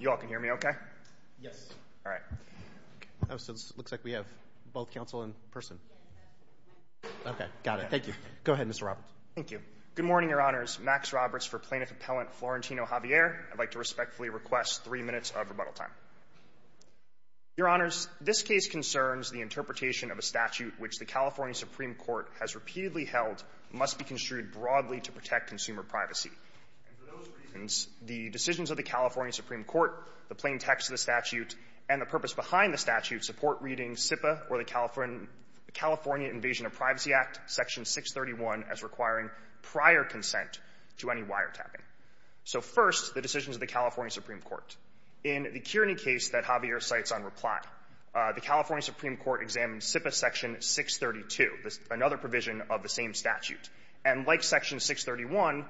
You all can hear me okay? Yes. All right. Oh, so it looks like we have both counsel in person. Okay. Got it. Thank you. Go ahead, Mr. Roberts. Thank you. Good morning, Your Honors. Max Roberts for Plaintiff Appellant Florentino Javier. I'd like to respectfully request three minutes of rebuttal time. Your Honors, this case concerns the interpretation of a statute which the California Supreme Court has repeatedly held must be construed broadly to protect consumer privacy. And for those reasons, the decisions of the California Supreme Court, the plain text of the statute, and the purpose behind the statute support reading CIPA, or the California Invasion of Privacy Act, Section 631 as requiring prior consent to any wiretapping. So first, the decisions of the California Supreme Court. In the Kearney case that Javier cites on reply, the California Supreme Court examined CIPA Section 632, another provision of the same statute. And like Section 631,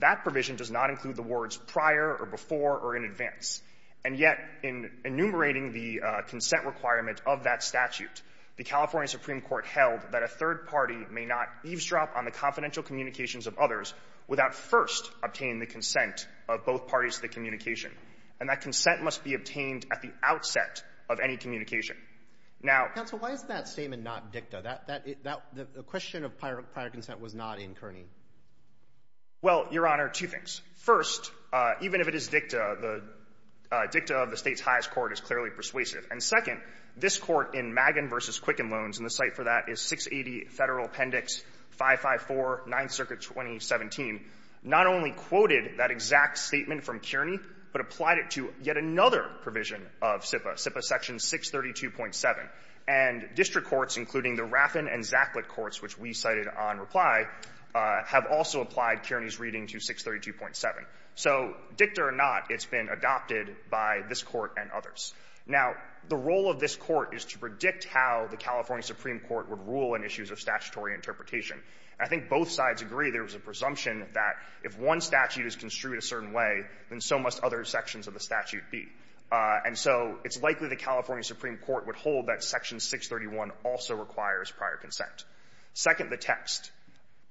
that provision does not include the words prior or before or in advance. And yet, in enumerating the consent requirement of that statute, the California Supreme Court held that a third party may not eavesdrop on the confidential communications of others without first obtaining the consent of both parties to the communication. And that consent must be obtained at the outset of any communication. Now — Well, Your Honor, two things. First, even if it is dicta, the dicta of the State's highest court is clearly persuasive. And second, this Court in Magen v. Quicken Loans, and the site for that is 680 Federal Appendix 554, 9th Circuit, 2017, not only quoted that exact statement from Kearney, but applied it to yet another provision of CIPA, CIPA Section 632.7. And district courts, including the Raffin and Zaklit courts, which we cited on reply, have also applied Kearney's reading to 632.7. So dicta or not, it's been adopted by this Court and others. Now, the role of this Court is to predict how the California Supreme Court would rule on issues of statutory interpretation. I think both sides agree there was a presumption that if one statute is construed a certain way, then so must other sections of the statute be. And so it's likely the California Supreme Court would hold that Section 631 also requires prior consent. Second, the text.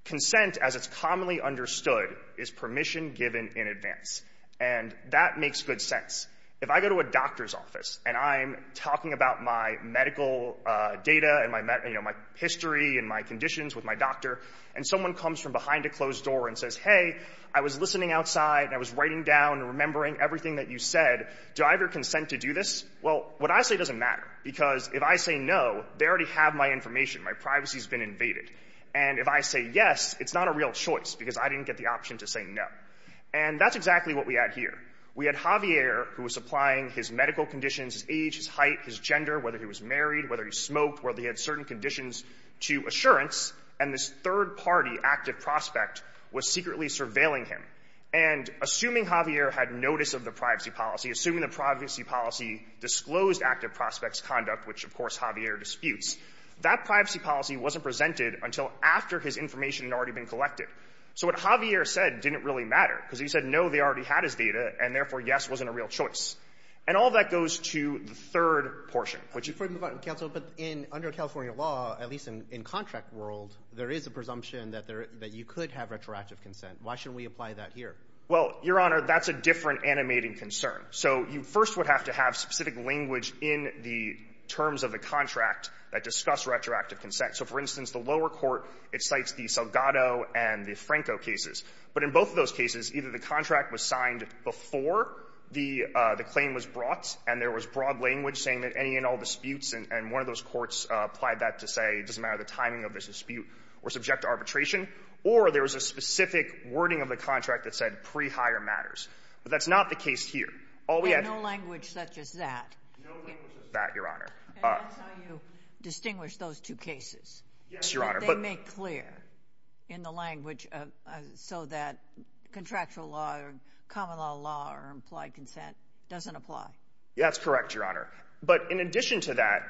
Consent, as it's commonly understood, is permission given in advance. And that makes good sense. If I go to a doctor's office and I'm talking about my medical data and my, you know, my history and my conditions with my doctor, and someone comes from behind a closed door and says, hey, I was listening outside and I was writing down and remembering everything that you said, do I have your consent to do this? Well, what I say doesn't matter, because if I say no, they already have my information. My privacy has been invaded. And if I say yes, it's not a real choice because I didn't get the option to say no. And that's exactly what we had here. We had Javier, who was applying his medical conditions, his age, his height, his gender, whether he was married, whether he smoked, whether he had certain conditions to assurance, and this third-party active prospect was secretly surveilling him. And assuming Javier had notice of the privacy policy, assuming the privacy policy disclosed active prospect's conduct, which, of course, Javier disputes, that privacy policy wasn't presented until after his information had already been collected. So what Javier said didn't really matter, because he said no, they already had his data, and therefore yes wasn't a real choice. And all of that goes to the third party. Roberts. But under California law, at least in contract world, there is a presumption that you could have retroactive consent. Why shouldn't we apply that here? Well, Your Honor, that's a different animating concern. So you first would have to have specific language in the terms of the contract that discuss retroactive consent. So, for instance, the lower court, it cites the Salgado and the Franco cases. But in both of those cases, either the contract was signed before the claim was brought and there was broad language saying that any and all disputes and one of those courts applied that to say it doesn't matter the timing of the dispute or subject to arbitration, or there was a specific wording of the contract that said pre-hire matters. But that's not the case here. All we have to do — And no language such as that. No language such as that, Your Honor. And that's how you distinguish those two cases. Yes, Your Honor. That they make clear in the language so that contractual law or common law law or implied consent doesn't apply. Yeah, that's correct, Your Honor. But in addition to that,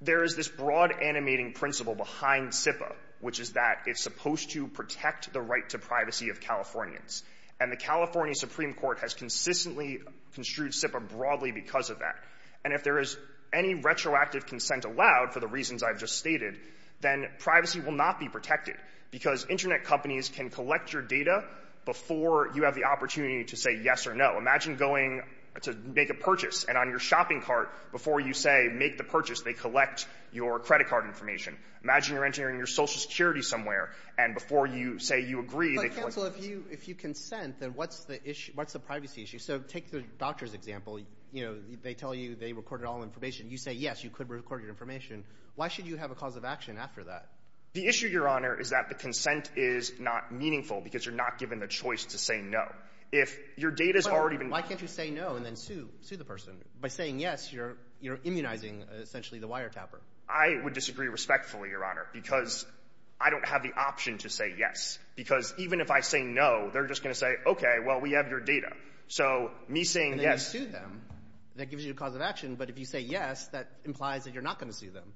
there is this broad animating principle behind SIPA, which is that it's supposed to protect the right to privacy of Californians. And the California Supreme Court has consistently construed SIPA broadly because of that. And if there is any retroactive consent allowed, for the reasons I've just stated, then privacy will not be protected because Internet companies can collect your data before you have the opportunity to say yes or no. Imagine going to make a purchase, and on your shopping cart, before you say, make the purchase, they collect your credit card information. Imagine you're entering your Social Security somewhere, and before you say you agree, they collect it. But, counsel, if you consent, then what's the issue — what's the privacy issue? So take the doctor's example. You know, they tell you they recorded all information. You say, yes, you could record your information. Why should you have a cause of action after that? The issue, Your Honor, is that the consent is not meaningful because you're not given the choice to say no. If your data's already been — Why can't you say no and then sue the person? By saying yes, you're immunizing, essentially, the wiretapper. I would disagree respectfully, Your Honor, because I don't have the option to say yes. Because even if I say no, they're just going to say, okay, well, we have your data. So me saying yes — And then you sue them. That gives you a cause of action. But if you say yes, that implies that you're not going to sue them.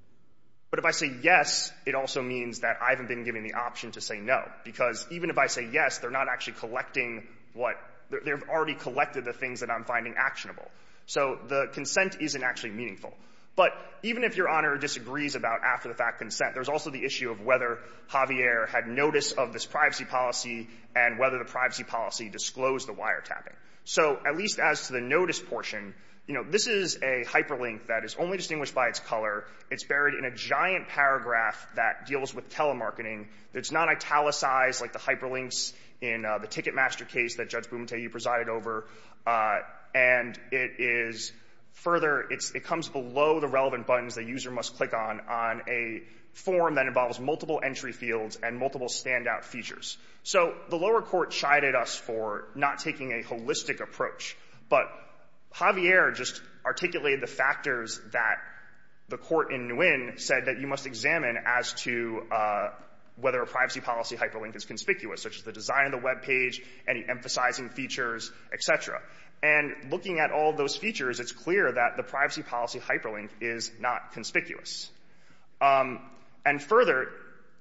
But if I say yes, it also means that I haven't been given the option to say no. Because even if I say yes, they're not actually collecting what — they've already collected the things that I'm finding actionable. So the consent isn't actually meaningful. But even if Your Honor disagrees about after-the-fact consent, there's also the issue of whether Javier had notice of this privacy policy and whether the privacy policy disclosed the wiretapping. So at least as to the notice portion, you know, this is a hyperlink that is only distinguished by its color. It's buried in a giant paragraph that deals with telemarketing. It's not italicized like the hyperlinks in the Ticketmaster case that Judge Bumateu presided over. And it is further — it comes below the relevant buttons that a user must click on on a form that involves multiple entry fields and multiple standout features. So the lower court chided us for not taking a holistic approach. But Javier just articulated the factors that the court in Nguyen said that you must examine as to whether a privacy policy hyperlink is conspicuous, such as the design of the web page, any emphasizing features, et cetera. And looking at all those features, it's clear that the privacy policy hyperlink is not conspicuous. And further,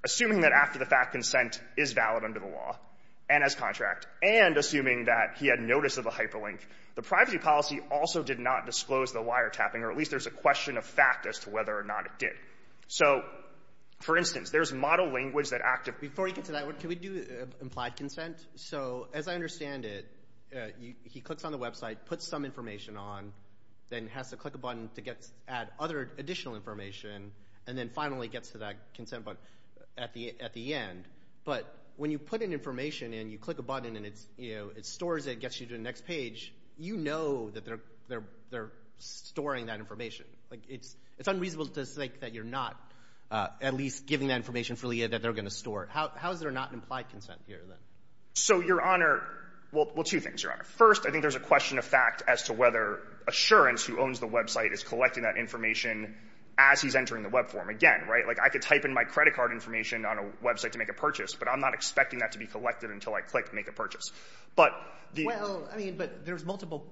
assuming that after-the-fact consent is valid under the law and as contract and assuming that he had notice of a hyperlink, the privacy policy also did not disclose the wiretapping, or at least there's a question of fact as to whether or not it did. So, for instance, there's model language that actively— Before you get to that, can we do implied consent? So as I understand it, he clicks on the website, puts some information on, then has to click a button to add other additional information, and then finally gets to that consent button at the end. But when you put in information and you click a button and it stores it and gets you to the next page, you know that they're storing that information. It's unreasonable to think that you're not at least giving that information for Leah that they're going to store. How is there not an implied consent here, then? So, Your Honor, well, two things, Your Honor. First, I think there's a question of fact as to whether Assurance, who owns the website, is collecting that information as he's entering the web form. Again, I could type in my credit card information on a website to make a purchase, but I'm not expecting that to be collected until I click Make a Purchase. Well, I mean, but there's multiple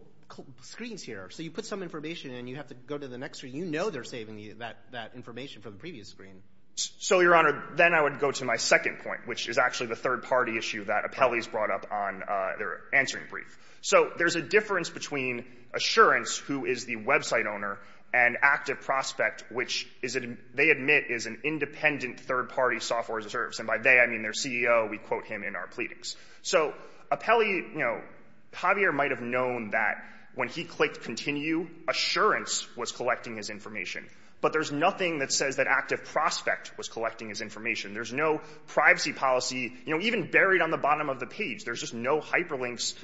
screens here. So you put some information in and you have to go to the next screen. You know they're saving that information from the previous screen. So, Your Honor, then I would go to my second point, which is actually the third-party issue that Apelli's brought up on their answering brief. So there's a difference between Assurance, who is the website owner, and Active Prospect, which they admit is an independent third-party software reserve. And by they, I mean their CEO. We quote him in our pleadings. So Apelli, you know, Javier might have known that when he clicked Continue, Assurance was collecting his information. But there's nothing that says that Active Prospect was collecting his information. There's no privacy policy, you know, even buried on the bottom of the page. There's just no hyperlinks.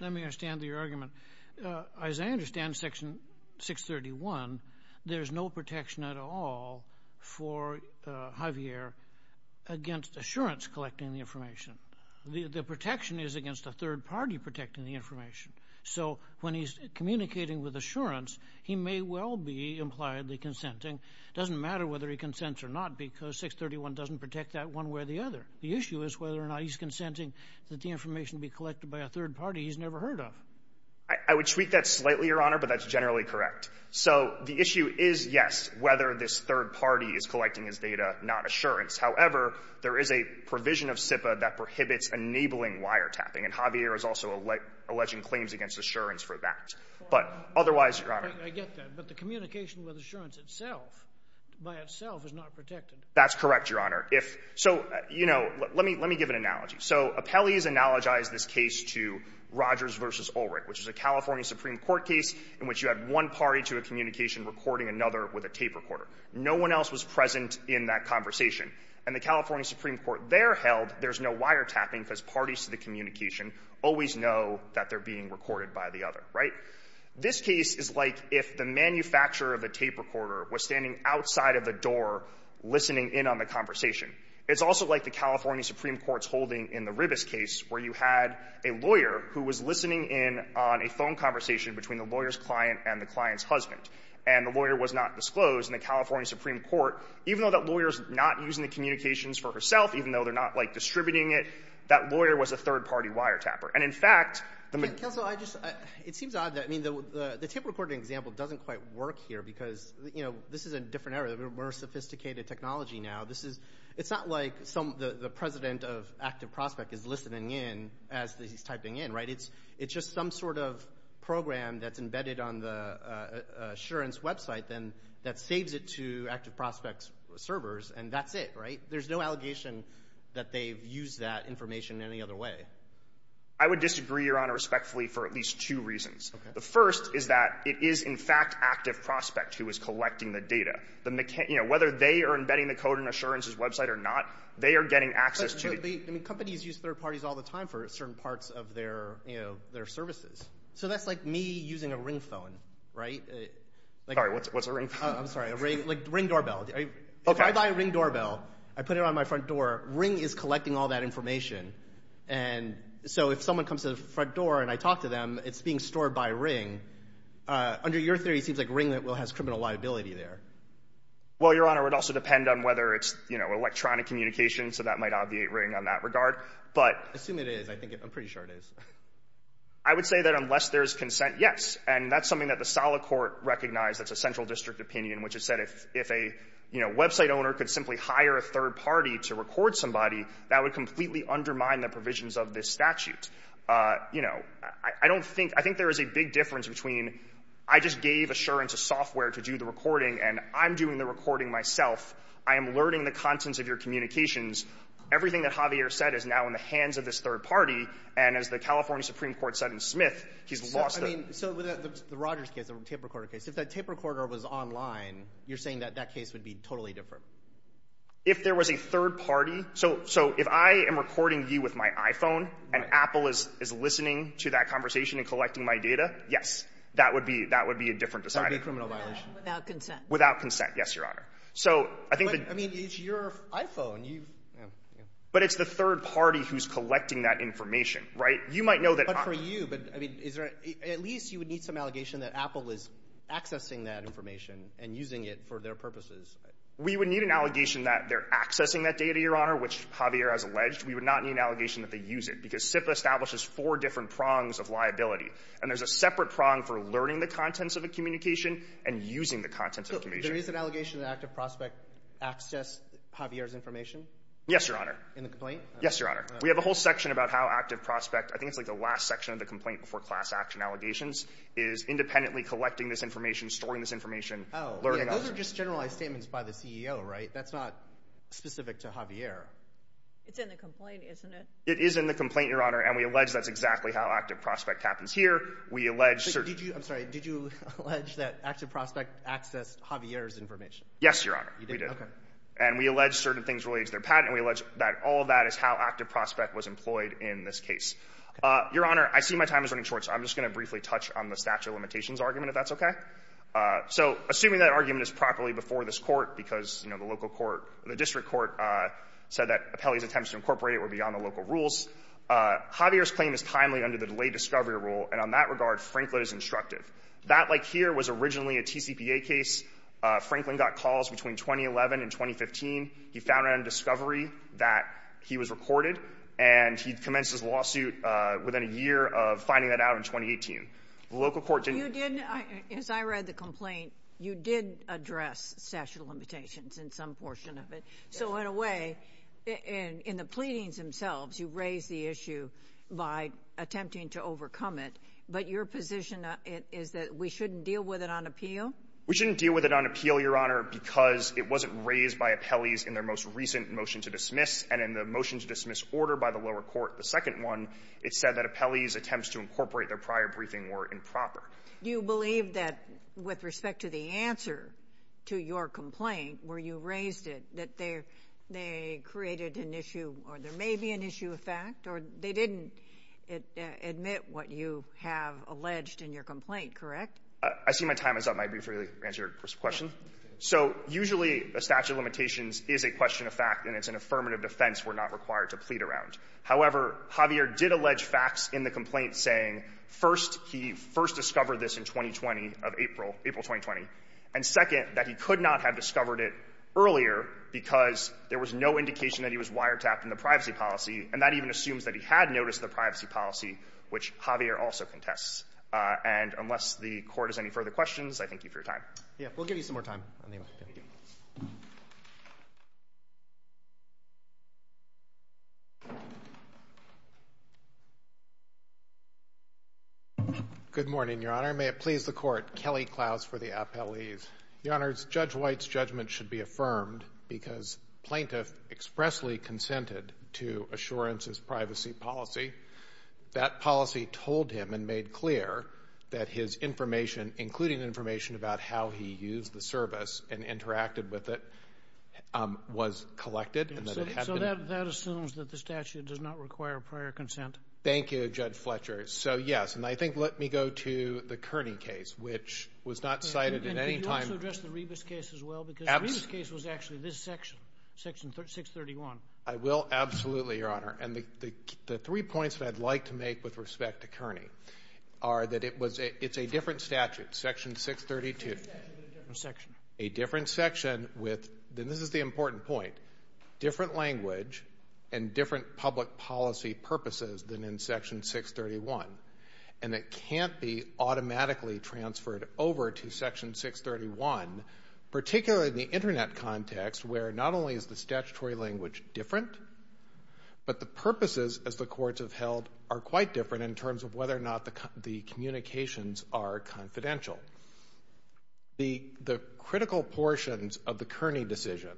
Let me understand your argument. As I understand Section 631, there's no protection at all for Javier against Assurance collecting the information. The protection is against a third-party protecting the information. So when he's communicating with Assurance, he may well be impliedly consenting. It doesn't matter whether he consents or not, because 631 doesn't protect that one way or the other. The issue is whether or not he's consenting that the information be collected by a third-party he's never heard of. I would tweak that slightly, Your Honor, but that's generally correct. So the issue is, yes, whether this third-party is collecting his data, not Assurance. However, there is a provision of SIPA that prohibits enabling wiretapping, and Javier is also alleging claims against Assurance for that. But otherwise, Your Honor — I get that. But the communication with Assurance itself, by itself, is not protected. That's correct, Your Honor. If — so, you know, let me give an analogy. So Apelles analogized this case to Rogers v. Ulrich, which is a California Supreme Court case in which you had one party to a communication recording another with a tape recorder. No one else was present in that conversation. And the California Supreme Court there held there's no wiretapping because parties to the communication always know that they're being recorded by the other. Right? This case is like if the manufacturer of the tape recorder was standing outside of the door listening in on the conversation. It's also like the California Supreme Court's holding in the Ribas case where you had a lawyer who was listening in on a phone conversation between the lawyer's client and the client's husband. And the lawyer was not disclosed. And the California Supreme Court, even though that lawyer's not using the communications for herself, even though they're not, like, distributing it, that lawyer was a third-party wiretapper. And, in fact, the — Counsel, I just — it seems odd that — I mean, the tape recording example doesn't quite work here because, you know, this is a different era. We're more sophisticated technology now. This is — it's not like some — the president of Active Prospect is listening in as he's typing in. Right? It's just some sort of program that's embedded on the Assurance website, then, that saves it to Active Prospect's servers. And that's it. Right? There's no allegation that they've used that information any other way. I would disagree, Your Honor, respectfully, for at least two reasons. Okay. The first is that it is, in fact, Active Prospect who is collecting the data. The — you know, whether they are embedding the code in Assurance's website or not, they are getting access to the — But, I mean, companies use third parties all the time for certain parts of their, you know, their services. So that's like me using a ring phone. Right? Sorry, what's a ring phone? I'm sorry. A ring doorbell. Okay. If I buy a ring doorbell, I put it on my front door, ring is collecting all that information. And so if someone comes to the front door and I talk to them, it's being stored by ring. Under your theory, it seems like ring has criminal liability there. Well, Your Honor, it would also depend on whether it's, you know, electronic communication, so that might obviate ring on that regard. But — I assume it is. I think it — I'm pretty sure it is. I would say that unless there's consent, yes. And that's something that the solid court recognized. That's a central district opinion, which has said if a, you know, website owner could simply hire a third party to record somebody, that would completely undermine the provisions of this statute. You know, I don't think — I think there is a big difference between I just gave Assurance a software to do the recording, and I'm doing the recording myself. I am learning the contents of your communications. Everything that Javier said is now in the hands of this third party. And as the California Supreme Court said in Smith, he's lost — I mean, so with the Rogers case, the tape recorder case, if that tape recorder was online, you're saying that that case would be totally different? If there was a third party — so if I am recording you with my iPhone, and Apple is listening to that conversation and collecting my data, yes, that would be a different decision. That would be a criminal violation. Without consent. Without consent, yes, Your Honor. So I think that — But, I mean, it's your iPhone. But it's the third party who's collecting that information, right? You might know that — But for you, but, I mean, at least you would need some allegation that Apple is accessing that information and using it for their purposes. We would need an allegation that they're accessing that data, Your Honor, which Javier has alleged. We would not need an allegation that they use it, because SIPA establishes four different prongs of liability. And there's a separate prong for learning the contents of a communication and using the contents of a communication. There is an allegation that Active Prospect accessed Javier's information? Yes, Your Honor. In the complaint? Yes, Your Honor. We have a whole section about how Active Prospect — I think it's like the last section of the complaint before class action allegations is independently collecting this information, storing this information. Oh, yeah. Those are just generalized statements by the CEO, right? That's not specific to Javier. It's in the complaint, isn't it? It is in the complaint, Your Honor, and we allege that's exactly how Active Prospect happens here. We allege certain — I'm sorry. Did you allege that Active Prospect accessed Javier's information? Yes, Your Honor. You did? Okay. And we allege certain things related to their patent. And we allege that all of that is how Active Prospect was employed in this case. Okay. Your Honor, I see my time is running short, so I'm just going to briefly touch on the statute of limitations argument, if that's okay. So assuming that argument is properly before this Court because, you know, the local court — the district court said that Apelli's attempts to incorporate it were beyond the local rules, Javier's claim is timely under the delayed discovery rule, and on that regard, Franklin is instructive. That, like here, was originally a TCPA case. Franklin got calls between 2011 and 2015. He found out in discovery that he was recorded, and he commenced his lawsuit within a year of finding that out in 2018. The local court didn't — You didn't — as I read the complaint, you did address statute of limitations in some portion of it. So in a way, in the pleadings themselves, you raised the issue by attempting to overcome it. But your position is that we shouldn't deal with it on appeal? We shouldn't deal with it on appeal, Your Honor, because it wasn't raised by Apelli's in their most recent motion to dismiss, and in the motion to dismiss order by the lower court, the second one, it said that Apelli's attempts to incorporate their prior briefing were improper. Do you believe that with respect to the answer to your complaint, where you raised it, that they created an issue or there may be an issue of fact, or they didn't admit what you have alleged in your complaint, correct? I see my time is up. I might be able to answer your question. So usually a statute of limitations is a question of fact, and it's an affirmative defense we're not required to plead around. However, Javier did allege facts in the complaint saying, first, he first discovered this in 2020 of April, April 2020, and second, that he could not have discovered it earlier because there was no indication that he was wiretapped in the privacy policy, and that even assumes that he had noticed the privacy policy, which Javier also contests. And unless the Court has any further questions, I thank you for your time. Yeah. We'll give you some more time. Thank you. Good morning, Your Honor. May it please the Court. Kelly Klaus for the Apelli's. Your Honor, Judge White's judgment should be affirmed because Plaintiff expressly consented to Assurance's privacy policy. That policy told him and made clear that his information, including information about how he used the service and interacted with it, was collected. So that assumes that the statute does not require prior consent? Thank you, Judge Fletcher. So, yes. And I think let me go to the Kearney case, which was not cited at any time. And could you also address the Rebus case as well? Because the Rebus case was actually this section, Section 631. I will, absolutely, Your Honor. And the three points that I'd like to make with respect to Kearney are that it's a different statute, Section 632. A different section. A different section with, and this is the important point, different language and different public policy purposes than in Section 631. And it can't be automatically transferred over to Section 631, particularly in the Internet context, where not only is the statutory language different, but the purposes, as the courts have held, are quite different in terms of whether or not the communications are confidential. The critical portions of the Kearney decision,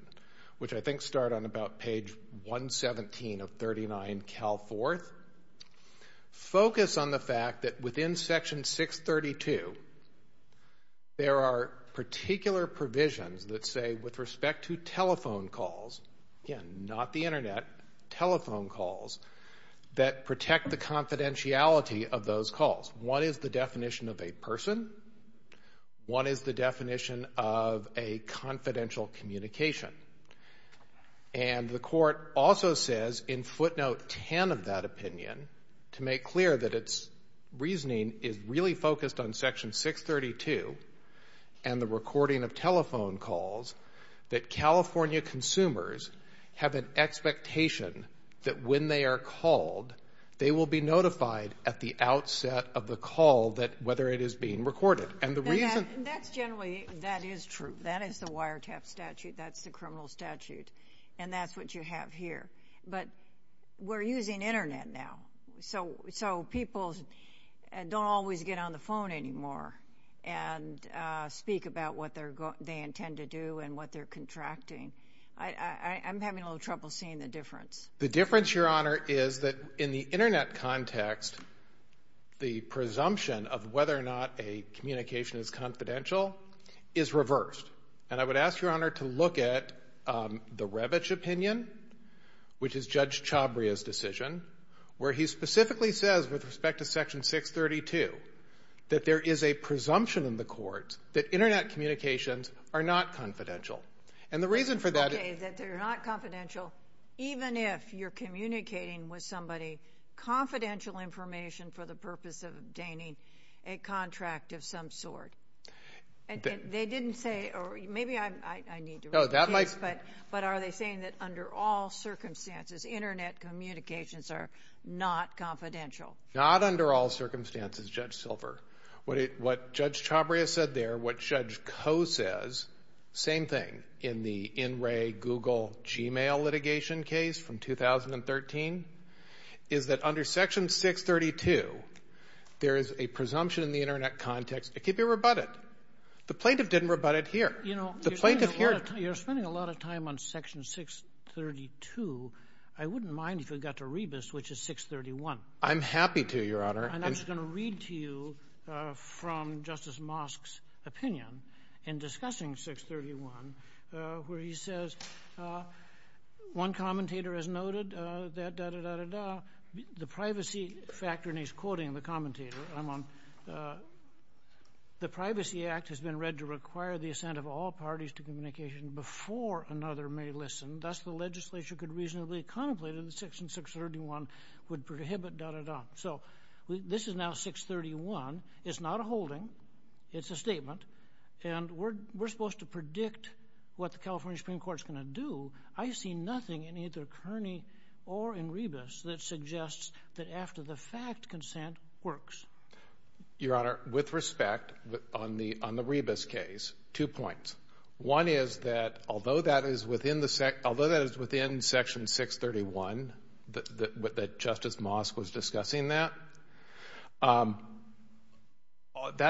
which I think start on about page 117 of 39 Cal 4th, focus on the fact that within Section 632, there are particular provisions that say, with respect to telephone calls, again, not the Internet, telephone calls, that protect the confidentiality of those calls. One is the definition of a person. One is the definition of a confidential communication. And the Court also says in footnote 10 of that opinion, to make clear that its telephone calls, that California consumers have an expectation that when they are called, they will be notified at the outset of the call whether it is being recorded. And the reason... That's generally, that is true. That is the wiretap statute. That's the criminal statute. And that's what you have here. But we're using Internet now, so people don't always get on the phone anymore and speak about what they intend to do and what they're contracting. I'm having a little trouble seeing the difference. The difference, Your Honor, is that in the Internet context, the presumption of whether or not a communication is confidential is reversed. And I would ask Your Honor to look at the Revitch opinion, which is Judge Chabria's section 632, that there is a presumption in the courts that Internet communications are not confidential. And the reason for that... Okay, that they're not confidential, even if you're communicating with somebody confidential information for the purpose of obtaining a contract of some sort. They didn't say, or maybe I need to repeat this, but are they saying that under all circumstances, Internet communications are not confidential? Not under all circumstances, Judge Silver. What Judge Chabria said there, what Judge Coe says, same thing, in the in-ray Google Gmail litigation case from 2013, is that under section 632, there is a presumption in the Internet context. It could be rebutted. The plaintiff didn't rebut it here. You're spending a lot of time on section 632. I wouldn't mind if we got to Rebus, which is 631. I'm happy to, Your Honor. And I'm just going to read to you from Justice Mosk's opinion in discussing 631, where he says, one commentator has noted that da-da-da-da-da, the privacy factor, and he's quoting the commentator, I'm on, the Privacy Act has been read to require the assent of all parties to communication before another may listen. Thus, the legislature could reasonably contemplate that section 631 would prohibit da-da-da. So this is now 631. It's not a holding. It's a statement. And we're supposed to predict what the California Supreme Court is going to do. I see nothing in either Kearney or in Rebus that suggests that after-the-fact consent works. Your Honor, with respect, on the Rebus case, two points. One is that although that is within the section, although that is within Section 631, that Justice Mosk was discussing that, that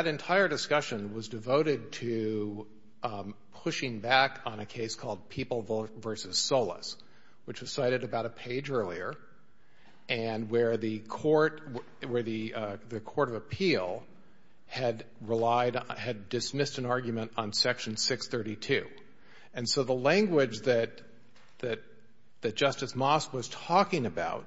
entire discussion was devoted to pushing back on a case called People v. Solis, which was cited about a page earlier, and where the court, where the court of appeal had relied on, had dismissed an argument on Section 632. And so the language that, that Justice Mosk was talking about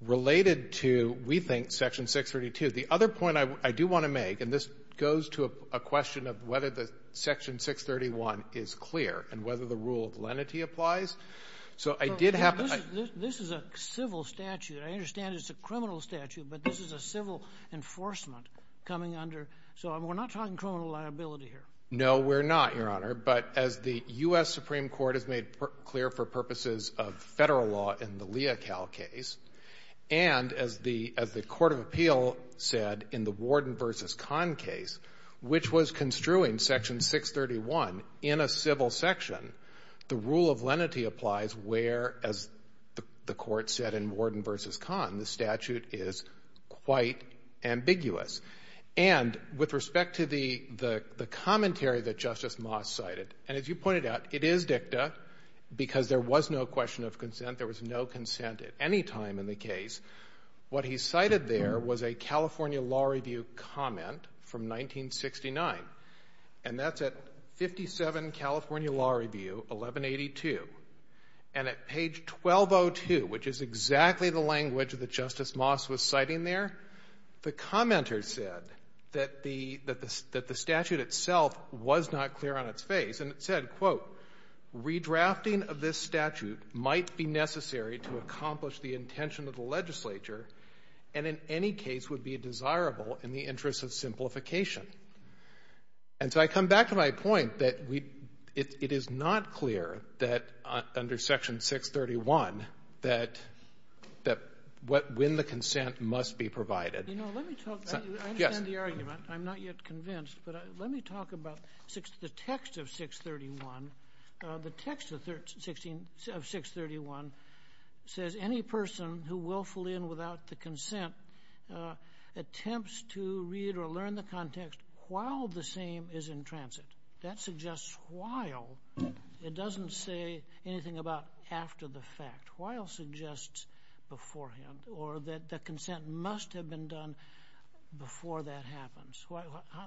related to, we think, Section 632. The other point I do want to make, and this goes to a question of whether the Section 631 is clear and whether the rule of lenity applies. So I did have a — This is a civil statute. I understand it's a criminal statute, but this is a civil enforcement coming under. So we're not talking criminal liability here. No, we're not, Your Honor. But as the U.S. Supreme Court has made clear for purposes of Federal law in the Leocal case, and as the, as the court of appeal said in the Warden v. Kahn case, which was construing Section 631 in a civil section, the rule of lenity applies where, as the court said in Warden v. Kahn, the statute is quite ambiguous. And with respect to the, the, the commentary that Justice Mosk cited, and as you pointed out, it is dicta because there was no question of consent. There was no consent at any time in the case. What he cited there was a California law review, 1182. And at page 1202, which is exactly the language that Justice Mosk was citing there, the commenter said that the, that the statute itself was not clear on its face. And it said, quote, Redrafting of this statute might be necessary to accomplish the intention of the legislature, and in any case would be desirable in the interest of simplification. And so I come back to my point that we, it, it is not clear that under Section 631 that, that what, when the consent must be provided. Sotomayor, you know, let me talk. I understand the argument. I'm not yet convinced. But let me talk about the text of 631. The text of 16, of 631 says any person who willfully and without the consent attempts to read or learn the context while the same is in transit. That suggests while. It doesn't say anything about after the fact. While suggests beforehand, or that the consent must have been done before that happens.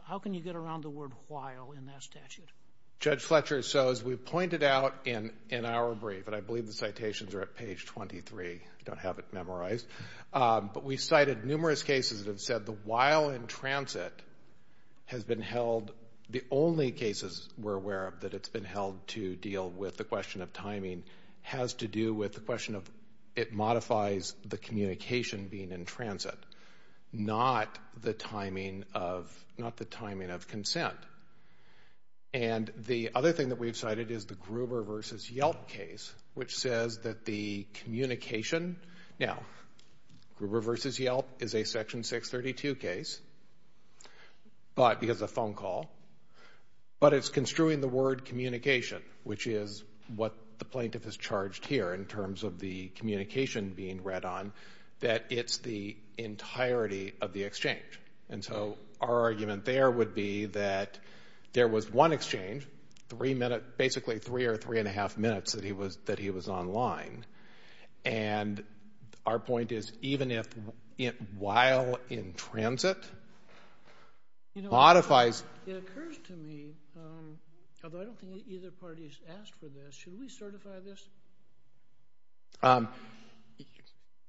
How can you get around the word while in that statute? Judge Fletcher, so as we pointed out in, in our brief, and I believe the citations are at page 23, don't have it memorized. But we cited numerous cases that said the while in transit has been held, the only cases we're aware of that it's been held to deal with the question of timing has to do with the question of it modifies the communication being in transit. Not the timing of, not the timing of consent. And the other thing that we've cited is the Gruber versus Yelp case, which says that the communication, now, Gruber versus Yelp is a section 632 case, but, because of phone call, but it's construing the word communication, which is what the plaintiff is charged here in terms of the communication being read on, that it's the entirety of the exchange. And so our argument there would be that there was one exchange, three minute, basically three or three and a half minutes that he was, that he was online. And our point is, even if, while in transit, modifies. You know, it occurs to me, although I don't think either parties asked for this, should we certify this?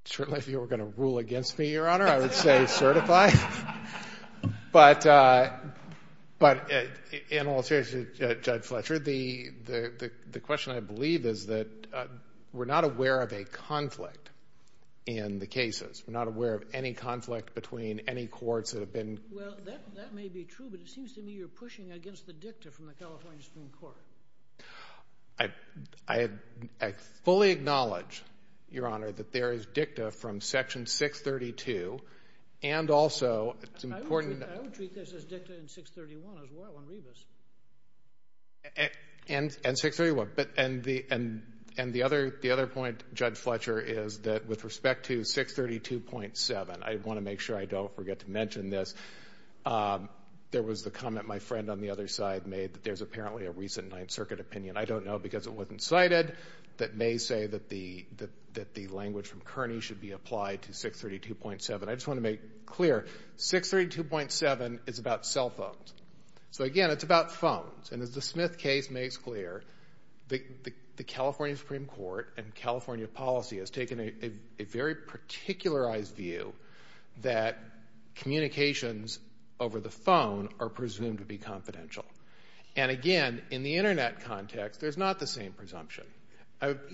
Certainly if you were going to rule against me, Your Honor, I would say certify. But, in all seriousness, Judge Fletcher, the question I believe is that we're not aware of a conflict in the cases. We're not aware of any conflict between any courts that have been. Well, that may be true, but it seems to me you're pushing against the dicta from the California Supreme Court. I fully acknowledge, Your Honor, that there is dicta from Section 632. And also, it's important. I would treat this as dicta in 631 as well on Rebus. And 631. And the other point, Judge Fletcher, is that with respect to 632.7, I want to make sure I don't forget to mention this. There was the comment my friend on the other side made that there's apparently a recent Ninth Circuit opinion, I don't know because it wasn't cited, that may say that the language from Kearney should be applied to 632.7. I just want to make clear, 632.7 is about cell phones. So, again, it's about phones. And as the Smith case makes clear, the California Supreme Court and California policy has taken a very particularized view that communications over the phone are presumed to be confidential. And, again, in the Internet context, there's not the same presumption.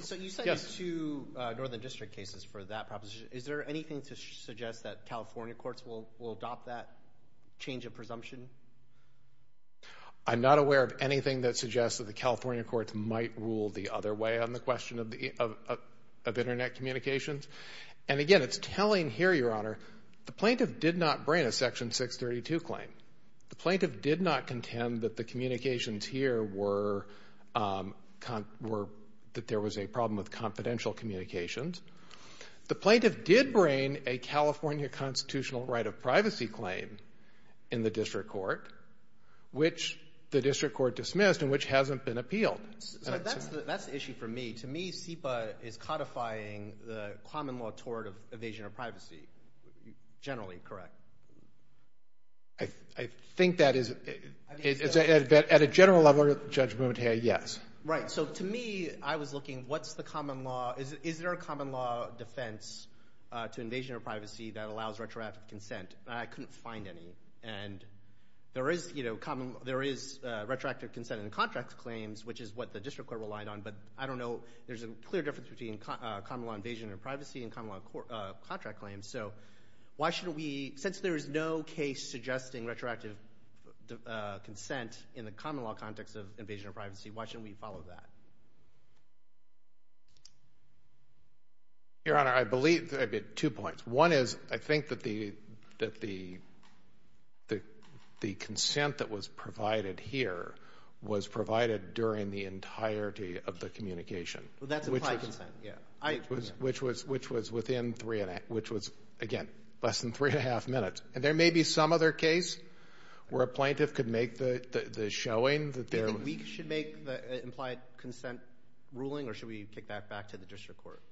So you cited two Northern District cases for that proposition. Is there anything to suggest that California courts will adopt that change of presumption? I'm not aware of anything that suggests that the California courts might rule the other way on the question of Internet communications. And, again, it's telling here, Your Honor, the plaintiff did not bring a Section 632 claim. The plaintiff did not contend that the communications here were that there was a problem with confidential communications. The plaintiff did bring a California constitutional right of privacy claim in the district court, which the district court dismissed and which hasn't been appealed. So that's the issue for me. To me, SEPA is codifying the common law tort of evasion of privacy generally, correct? I think that is, at a general level of judgment, yes. Right. So to me, I was looking, what's the common law? Is there a common law defense to invasion of privacy that allows retroactive consent? And I couldn't find any. And there is, you know, there is retroactive consent in contract claims, which is what the district court relied on. But I don't know, there's a clear difference between common law evasion of privacy and common law contract claims. So why shouldn't we, since there is no case suggesting retroactive consent in the common law context of evasion of privacy, why shouldn't we follow that? Your Honor, I believe, I have two points. One is, I think that the consent that was provided here was provided during the entirety of the communication. Well, that's implied consent. Yeah. Which was within three and a half, which was, again, less than three and a half minutes. And there may be some other case where a plaintiff could make the showing that there was. Do you think that we should make the implied consent ruling, or should we kick that back to the district court?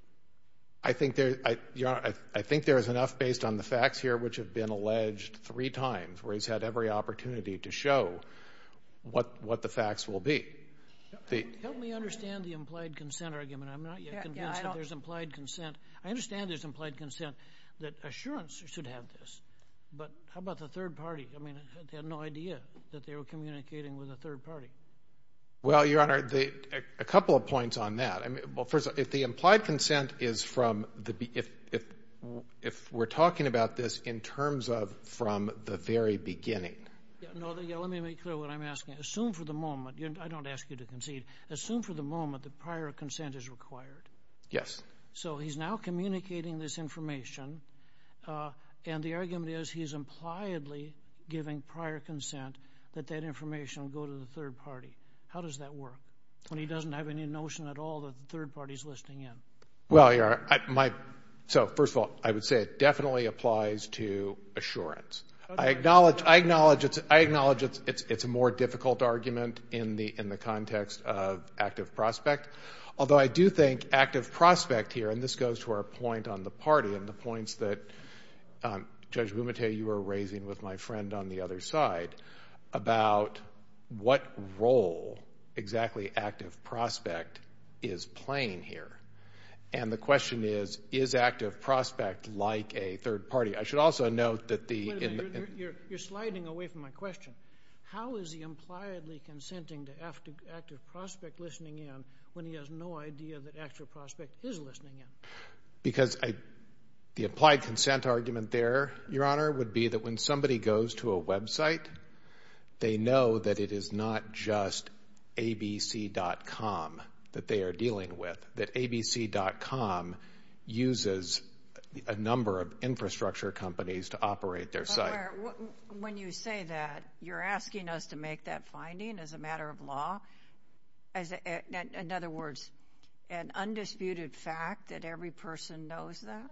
I think there, Your Honor, I think there is enough based on the facts here, which have been alleged three times, where he's had every opportunity to show what the facts will be. Help me understand the implied consent argument. I'm not yet convinced that there's implied consent. I understand there's implied consent, that assurance should have this. But how about the third party? I mean, they had no idea that they were communicating with a third party. Well, Your Honor, a couple of points on that. Well, first, if the implied consent is from the beginning, if we're talking about this in terms of from the very beginning. Let me make clear what I'm asking. Assume for the moment. I don't ask you to concede. Assume for the moment that prior consent is required. Yes. So he's now communicating this information, and the argument is he's impliedly giving prior consent that that information will go to the third party. How does that work? When he doesn't have any notion at all that the third party is listening in. Well, Your Honor, so first of all, I would say it definitely applies to assurance. I acknowledge it's a more difficult argument in the context of active prospect, although I do think active prospect here, and this goes to our point on the party and the points that, Judge Bumate, you were raising with my friend on the other side about what role exactly active prospect is playing here. And the question is, is active prospect like a third party? I should also note that the— Wait a minute. You're sliding away from my question. How is he impliedly consenting to active prospect listening in when he has no idea that active prospect is listening in? Because the implied consent argument there, Your Honor, would be that when somebody goes to a website, they know that it is not just abc.com that they are dealing with, that abc.com uses a number of infrastructure companies to operate their site. When you say that, you're asking us to make that finding as a matter of law? In other words, an undisputed fact that every person knows that?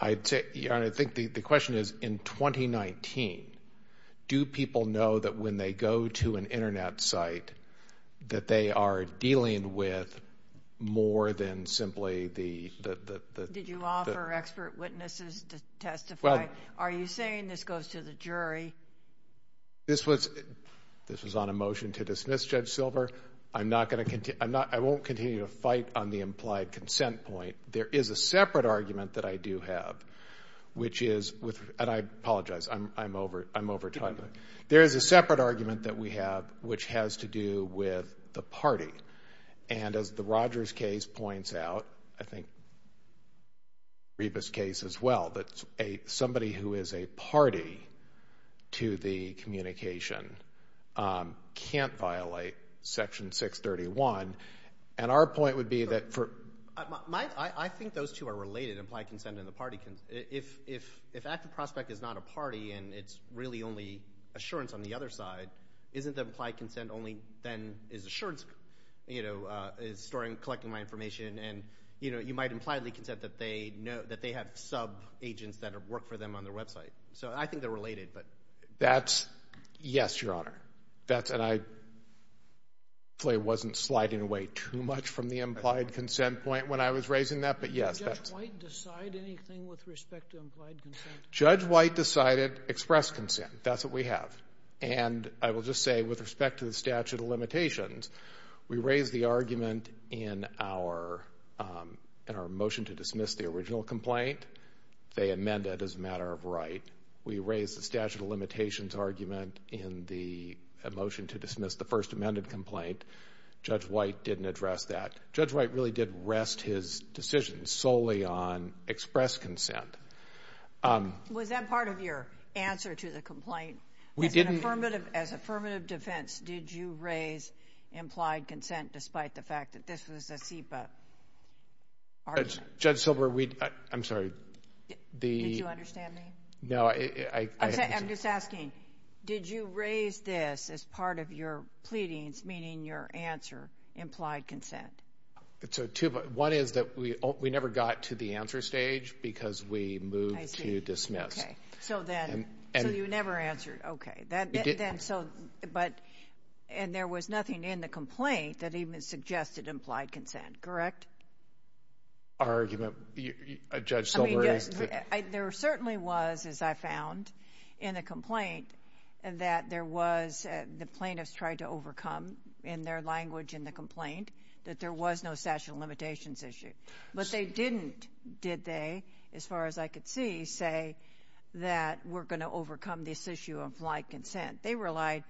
I'd say, Your Honor, I think the question is, in 2019, do people know that when they go to an internet site that they are dealing with more than simply the— Did you offer expert witnesses to testify? Are you saying this goes to the jury? This was on a motion to dismiss, Judge Silver. I'm not going to—I won't continue to fight on the implied consent point. There is a separate argument that I do have, which is—and I apologize. I'm over time. There is a separate argument that we have, which has to do with the party. And as the Rogers case points out, I think Reba's case as well, that somebody who is a party to the communication can't violate Section 631. And our point would be that for— I think those two are related, implied consent and the party. If active prospect is not a party and it's really only assurance on the other side, isn't the implied consent only then is assurance, you know, is storing, collecting my information, and, you know, you might impliedly consent that they have sub-agents that work for them on their website. So I think they're related, but— That's—yes, Your Honor. That's—and I wasn't sliding away too much from the implied consent point when I was raising that, but yes, that's— Did Judge White decide anything with respect to implied consent? Judge White decided express consent. That's what we have. And I will just say, with respect to the statute of limitations, we raised the argument in our motion to dismiss the original complaint. They amend it as a matter of right. We raised the statute of limitations argument in the motion to dismiss the first amended complaint. Judge White didn't address that. Judge White really did rest his decision solely on express consent. Was that part of your answer to the complaint? We didn't— As affirmative defense, did you raise implied consent despite the fact that this was a SEPA argument? Judge Silber, we—I'm sorry. Did you understand me? No, I— I'm just asking, did you raise this as part of your pleadings, meaning your answer, implied consent? So two—one is that we never got to the answer stage because we moved to dismiss. Okay. So then—so you never answered. Okay. Then so—but—and there was nothing in the complaint that even suggested implied consent, correct? Our argument, Judge Silber— There certainly was, as I found in the complaint, that there was—the plaintiffs tried to overcome in their language in the complaint that there was no statute of limitations issue. But they didn't, did they, as far as I could see, say that we're going to overcome this issue of implied consent. They relied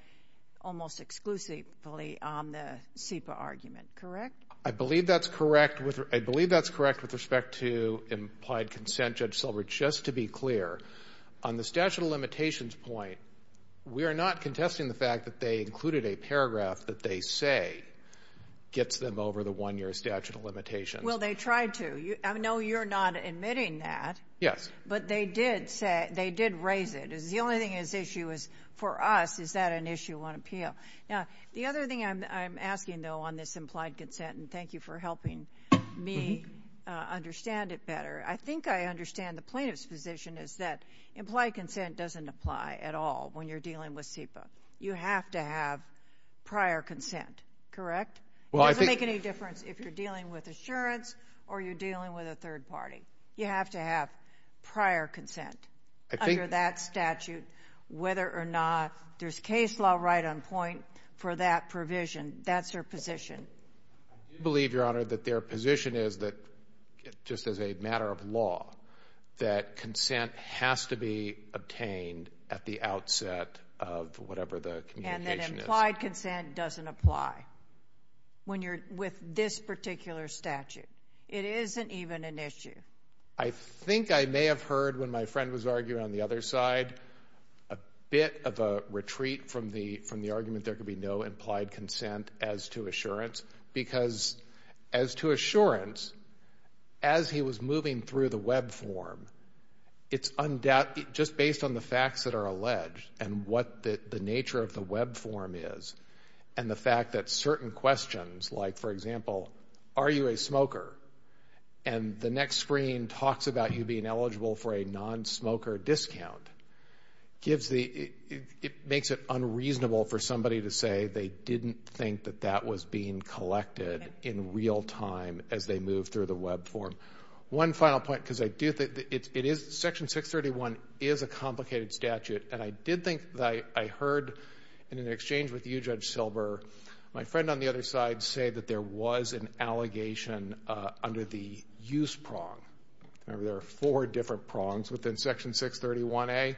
almost exclusively on the SEPA argument, correct? I believe that's correct with—I believe that's correct with respect to implied consent, Judge Silber. Just to be clear, on the statute of limitations point, we are not contesting the fact that they included a paragraph that they say gets them over the one year statute of limitations. Well, they tried to. I know you're not admitting that. Yes. But they did say—they did raise it. The only thing at issue is, for us, is that an issue on appeal? Now, the other thing I'm asking, though, on this implied consent, and thank you for helping me understand it better, I think I understand the plaintiff's position is that implied consent doesn't apply at all when you're dealing with SEPA. You have to have prior consent, correct? Well, I think— It doesn't make any difference if you're dealing with assurance or you're dealing with a third party. You have to have prior consent. I think— That's her position. I do believe, Your Honor, that their position is that, just as a matter of law, that consent has to be obtained at the outset of whatever the communication is. And that implied consent doesn't apply when you're with this particular statute. It isn't even an issue. I think I may have heard, when my friend was arguing on the other side, a bit of a retreat from the argument there could be no implied consent as to assurance, because as to assurance, as he was moving through the web form, it's undoubtedly—just based on the facts that are alleged and what the nature of the web form is, and the fact that certain questions, like, for example, are you a smoker? And the next screen talks about you being eligible for a non-smoker discount. It makes it unreasonable for somebody to say they didn't think that that was being collected in real time as they moved through the web form. One final point, because Section 631 is a complicated statute, and I did think that I heard, in an exchange with you, Judge Silber, my friend on the other side say that there was an allegation under the use prong. Remember, there are four different prongs within Section 631A.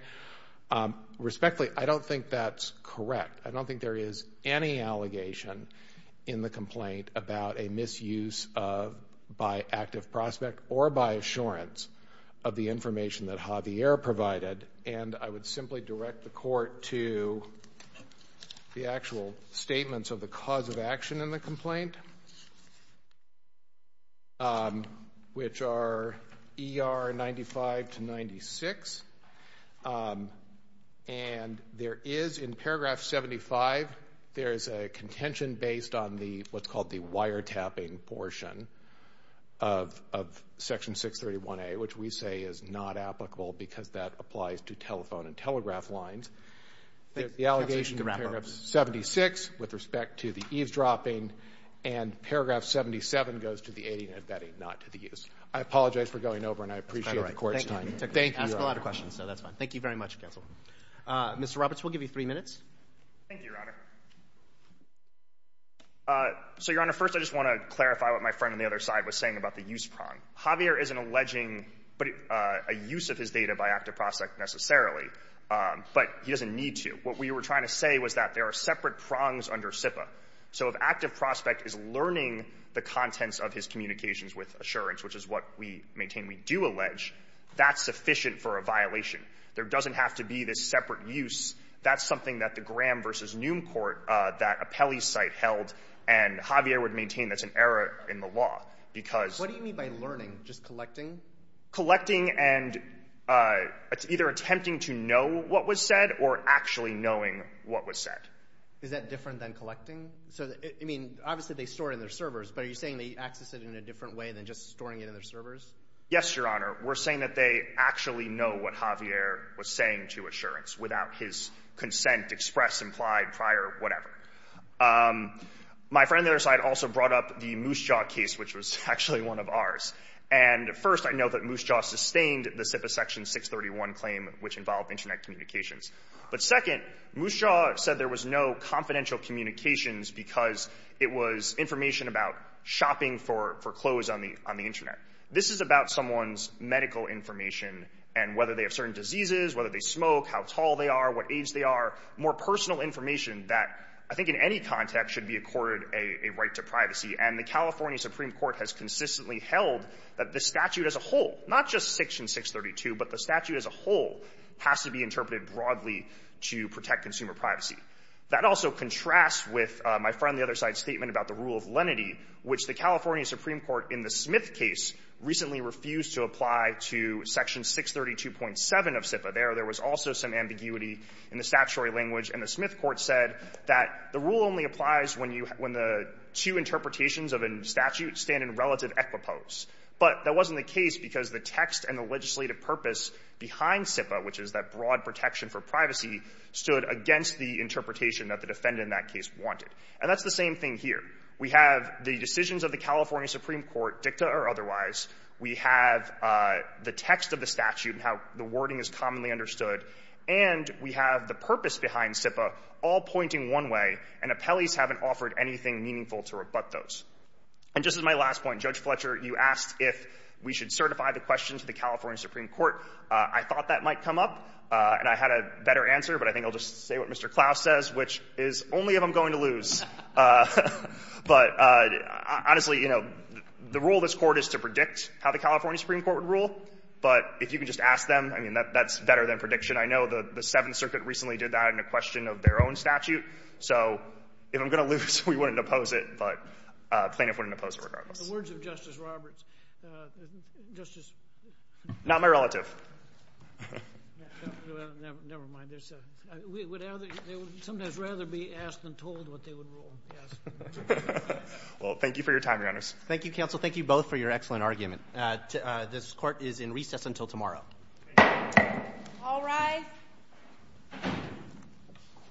Respectfully, I don't think that's correct. I don't think there is any allegation in the complaint about a misuse by active prospect or by assurance of the information that Javier provided, and I would simply direct the Court to the actual statements of the cause of action in the ER 95 to 96. And there is, in paragraph 75, there is a contention based on what's called the wiretapping portion of Section 631A, which we say is not applicable because that applies to telephone and telegraph lines. There's the allegation in paragraph 76 with respect to the eavesdropping, and paragraph 77 goes to the aiding and abetting, not to the use. I apologize for going over, and I appreciate the Court's time. That's kind of all right. Thank you. You asked a lot of questions, so that's fine. Thank you very much, Counsel. Mr. Roberts, we'll give you three minutes. Thank you, Your Honor. So, Your Honor, first I just want to clarify what my friend on the other side was saying about the use prong. Javier is alleging a use of his data by active prospect necessarily, but he doesn't need to. What we were trying to say was that there are separate prongs under SIPA. So if active prospect is learning the contents of his communications with insurance, which is what we maintain we do allege, that's sufficient for a violation. There doesn't have to be this separate use. That's something that the Graham v. Noom Court, that appellee site held, and Javier would maintain that's an error in the law because— What do you mean by learning, just collecting? Collecting and either attempting to know what was said or actually knowing what was said. Is that different than collecting? So, I mean, obviously they store it in their servers, but are you saying they access it in a different way than just storing it in their servers? Yes, Your Honor. We're saying that they actually know what Javier was saying to insurance without his consent expressed, implied, prior, whatever. My friend on the other side also brought up the Moosejaw case, which was actually one of ours. And, first, I know that Moosejaw sustained the SIPA Section 631 claim, which involved Internet communications. But, second, Moosejaw said there was no confidential communications because it was information about shopping for clothes on the Internet. This is about someone's medical information and whether they have certain diseases, whether they smoke, how tall they are, what age they are, more personal information that I think in any context should be accorded a right to privacy. And the California Supreme Court has consistently held that the statute as a whole, not just Section 632, but the statute as a whole, has to be interpreted broadly to protect consumer privacy. That also contrasts with my friend on the other side's statement about the rule of lenity, which the California Supreme Court in the Smith case recently refused to apply to Section 632.7 of SIPA. There, there was also some ambiguity in the statutory language. And the Smith court said that the rule only applies when you have the two interpretations of a statute stand in relative equipose. But that wasn't the case because the text and the legislative purpose behind SIPA, which is that broad protection for privacy, stood against the interpretation that the defendant in that case wanted. And that's the same thing here. We have the decisions of the California Supreme Court, dicta or otherwise. We have the text of the statute and how the wording is commonly understood. And we have the purpose behind SIPA all pointing one way, and appellees haven't offered anything meaningful to rebut those. And just as my last point, Judge Fletcher, you asked if we should certify the question to the California Supreme Court. I thought that might come up, and I had a better answer. But I think I'll just say what Mr. Klaus says, which is only if I'm going to lose. But honestly, you know, the role of this Court is to predict how the California Supreme Court would rule. But if you can just ask them, I mean, that's better than prediction. I know the Seventh Circuit recently did that in a question of their own statute. So if I'm going to lose, we wouldn't oppose it. But plaintiffs wouldn't oppose it regardless. The words of Justice Roberts. Not my relative. Never mind. They would sometimes rather be asked than told what they would rule. Well, thank you for your time, Your Honors. Thank you, Counsel. Thank you both for your excellent argument. This Court is in recess until tomorrow. All rise.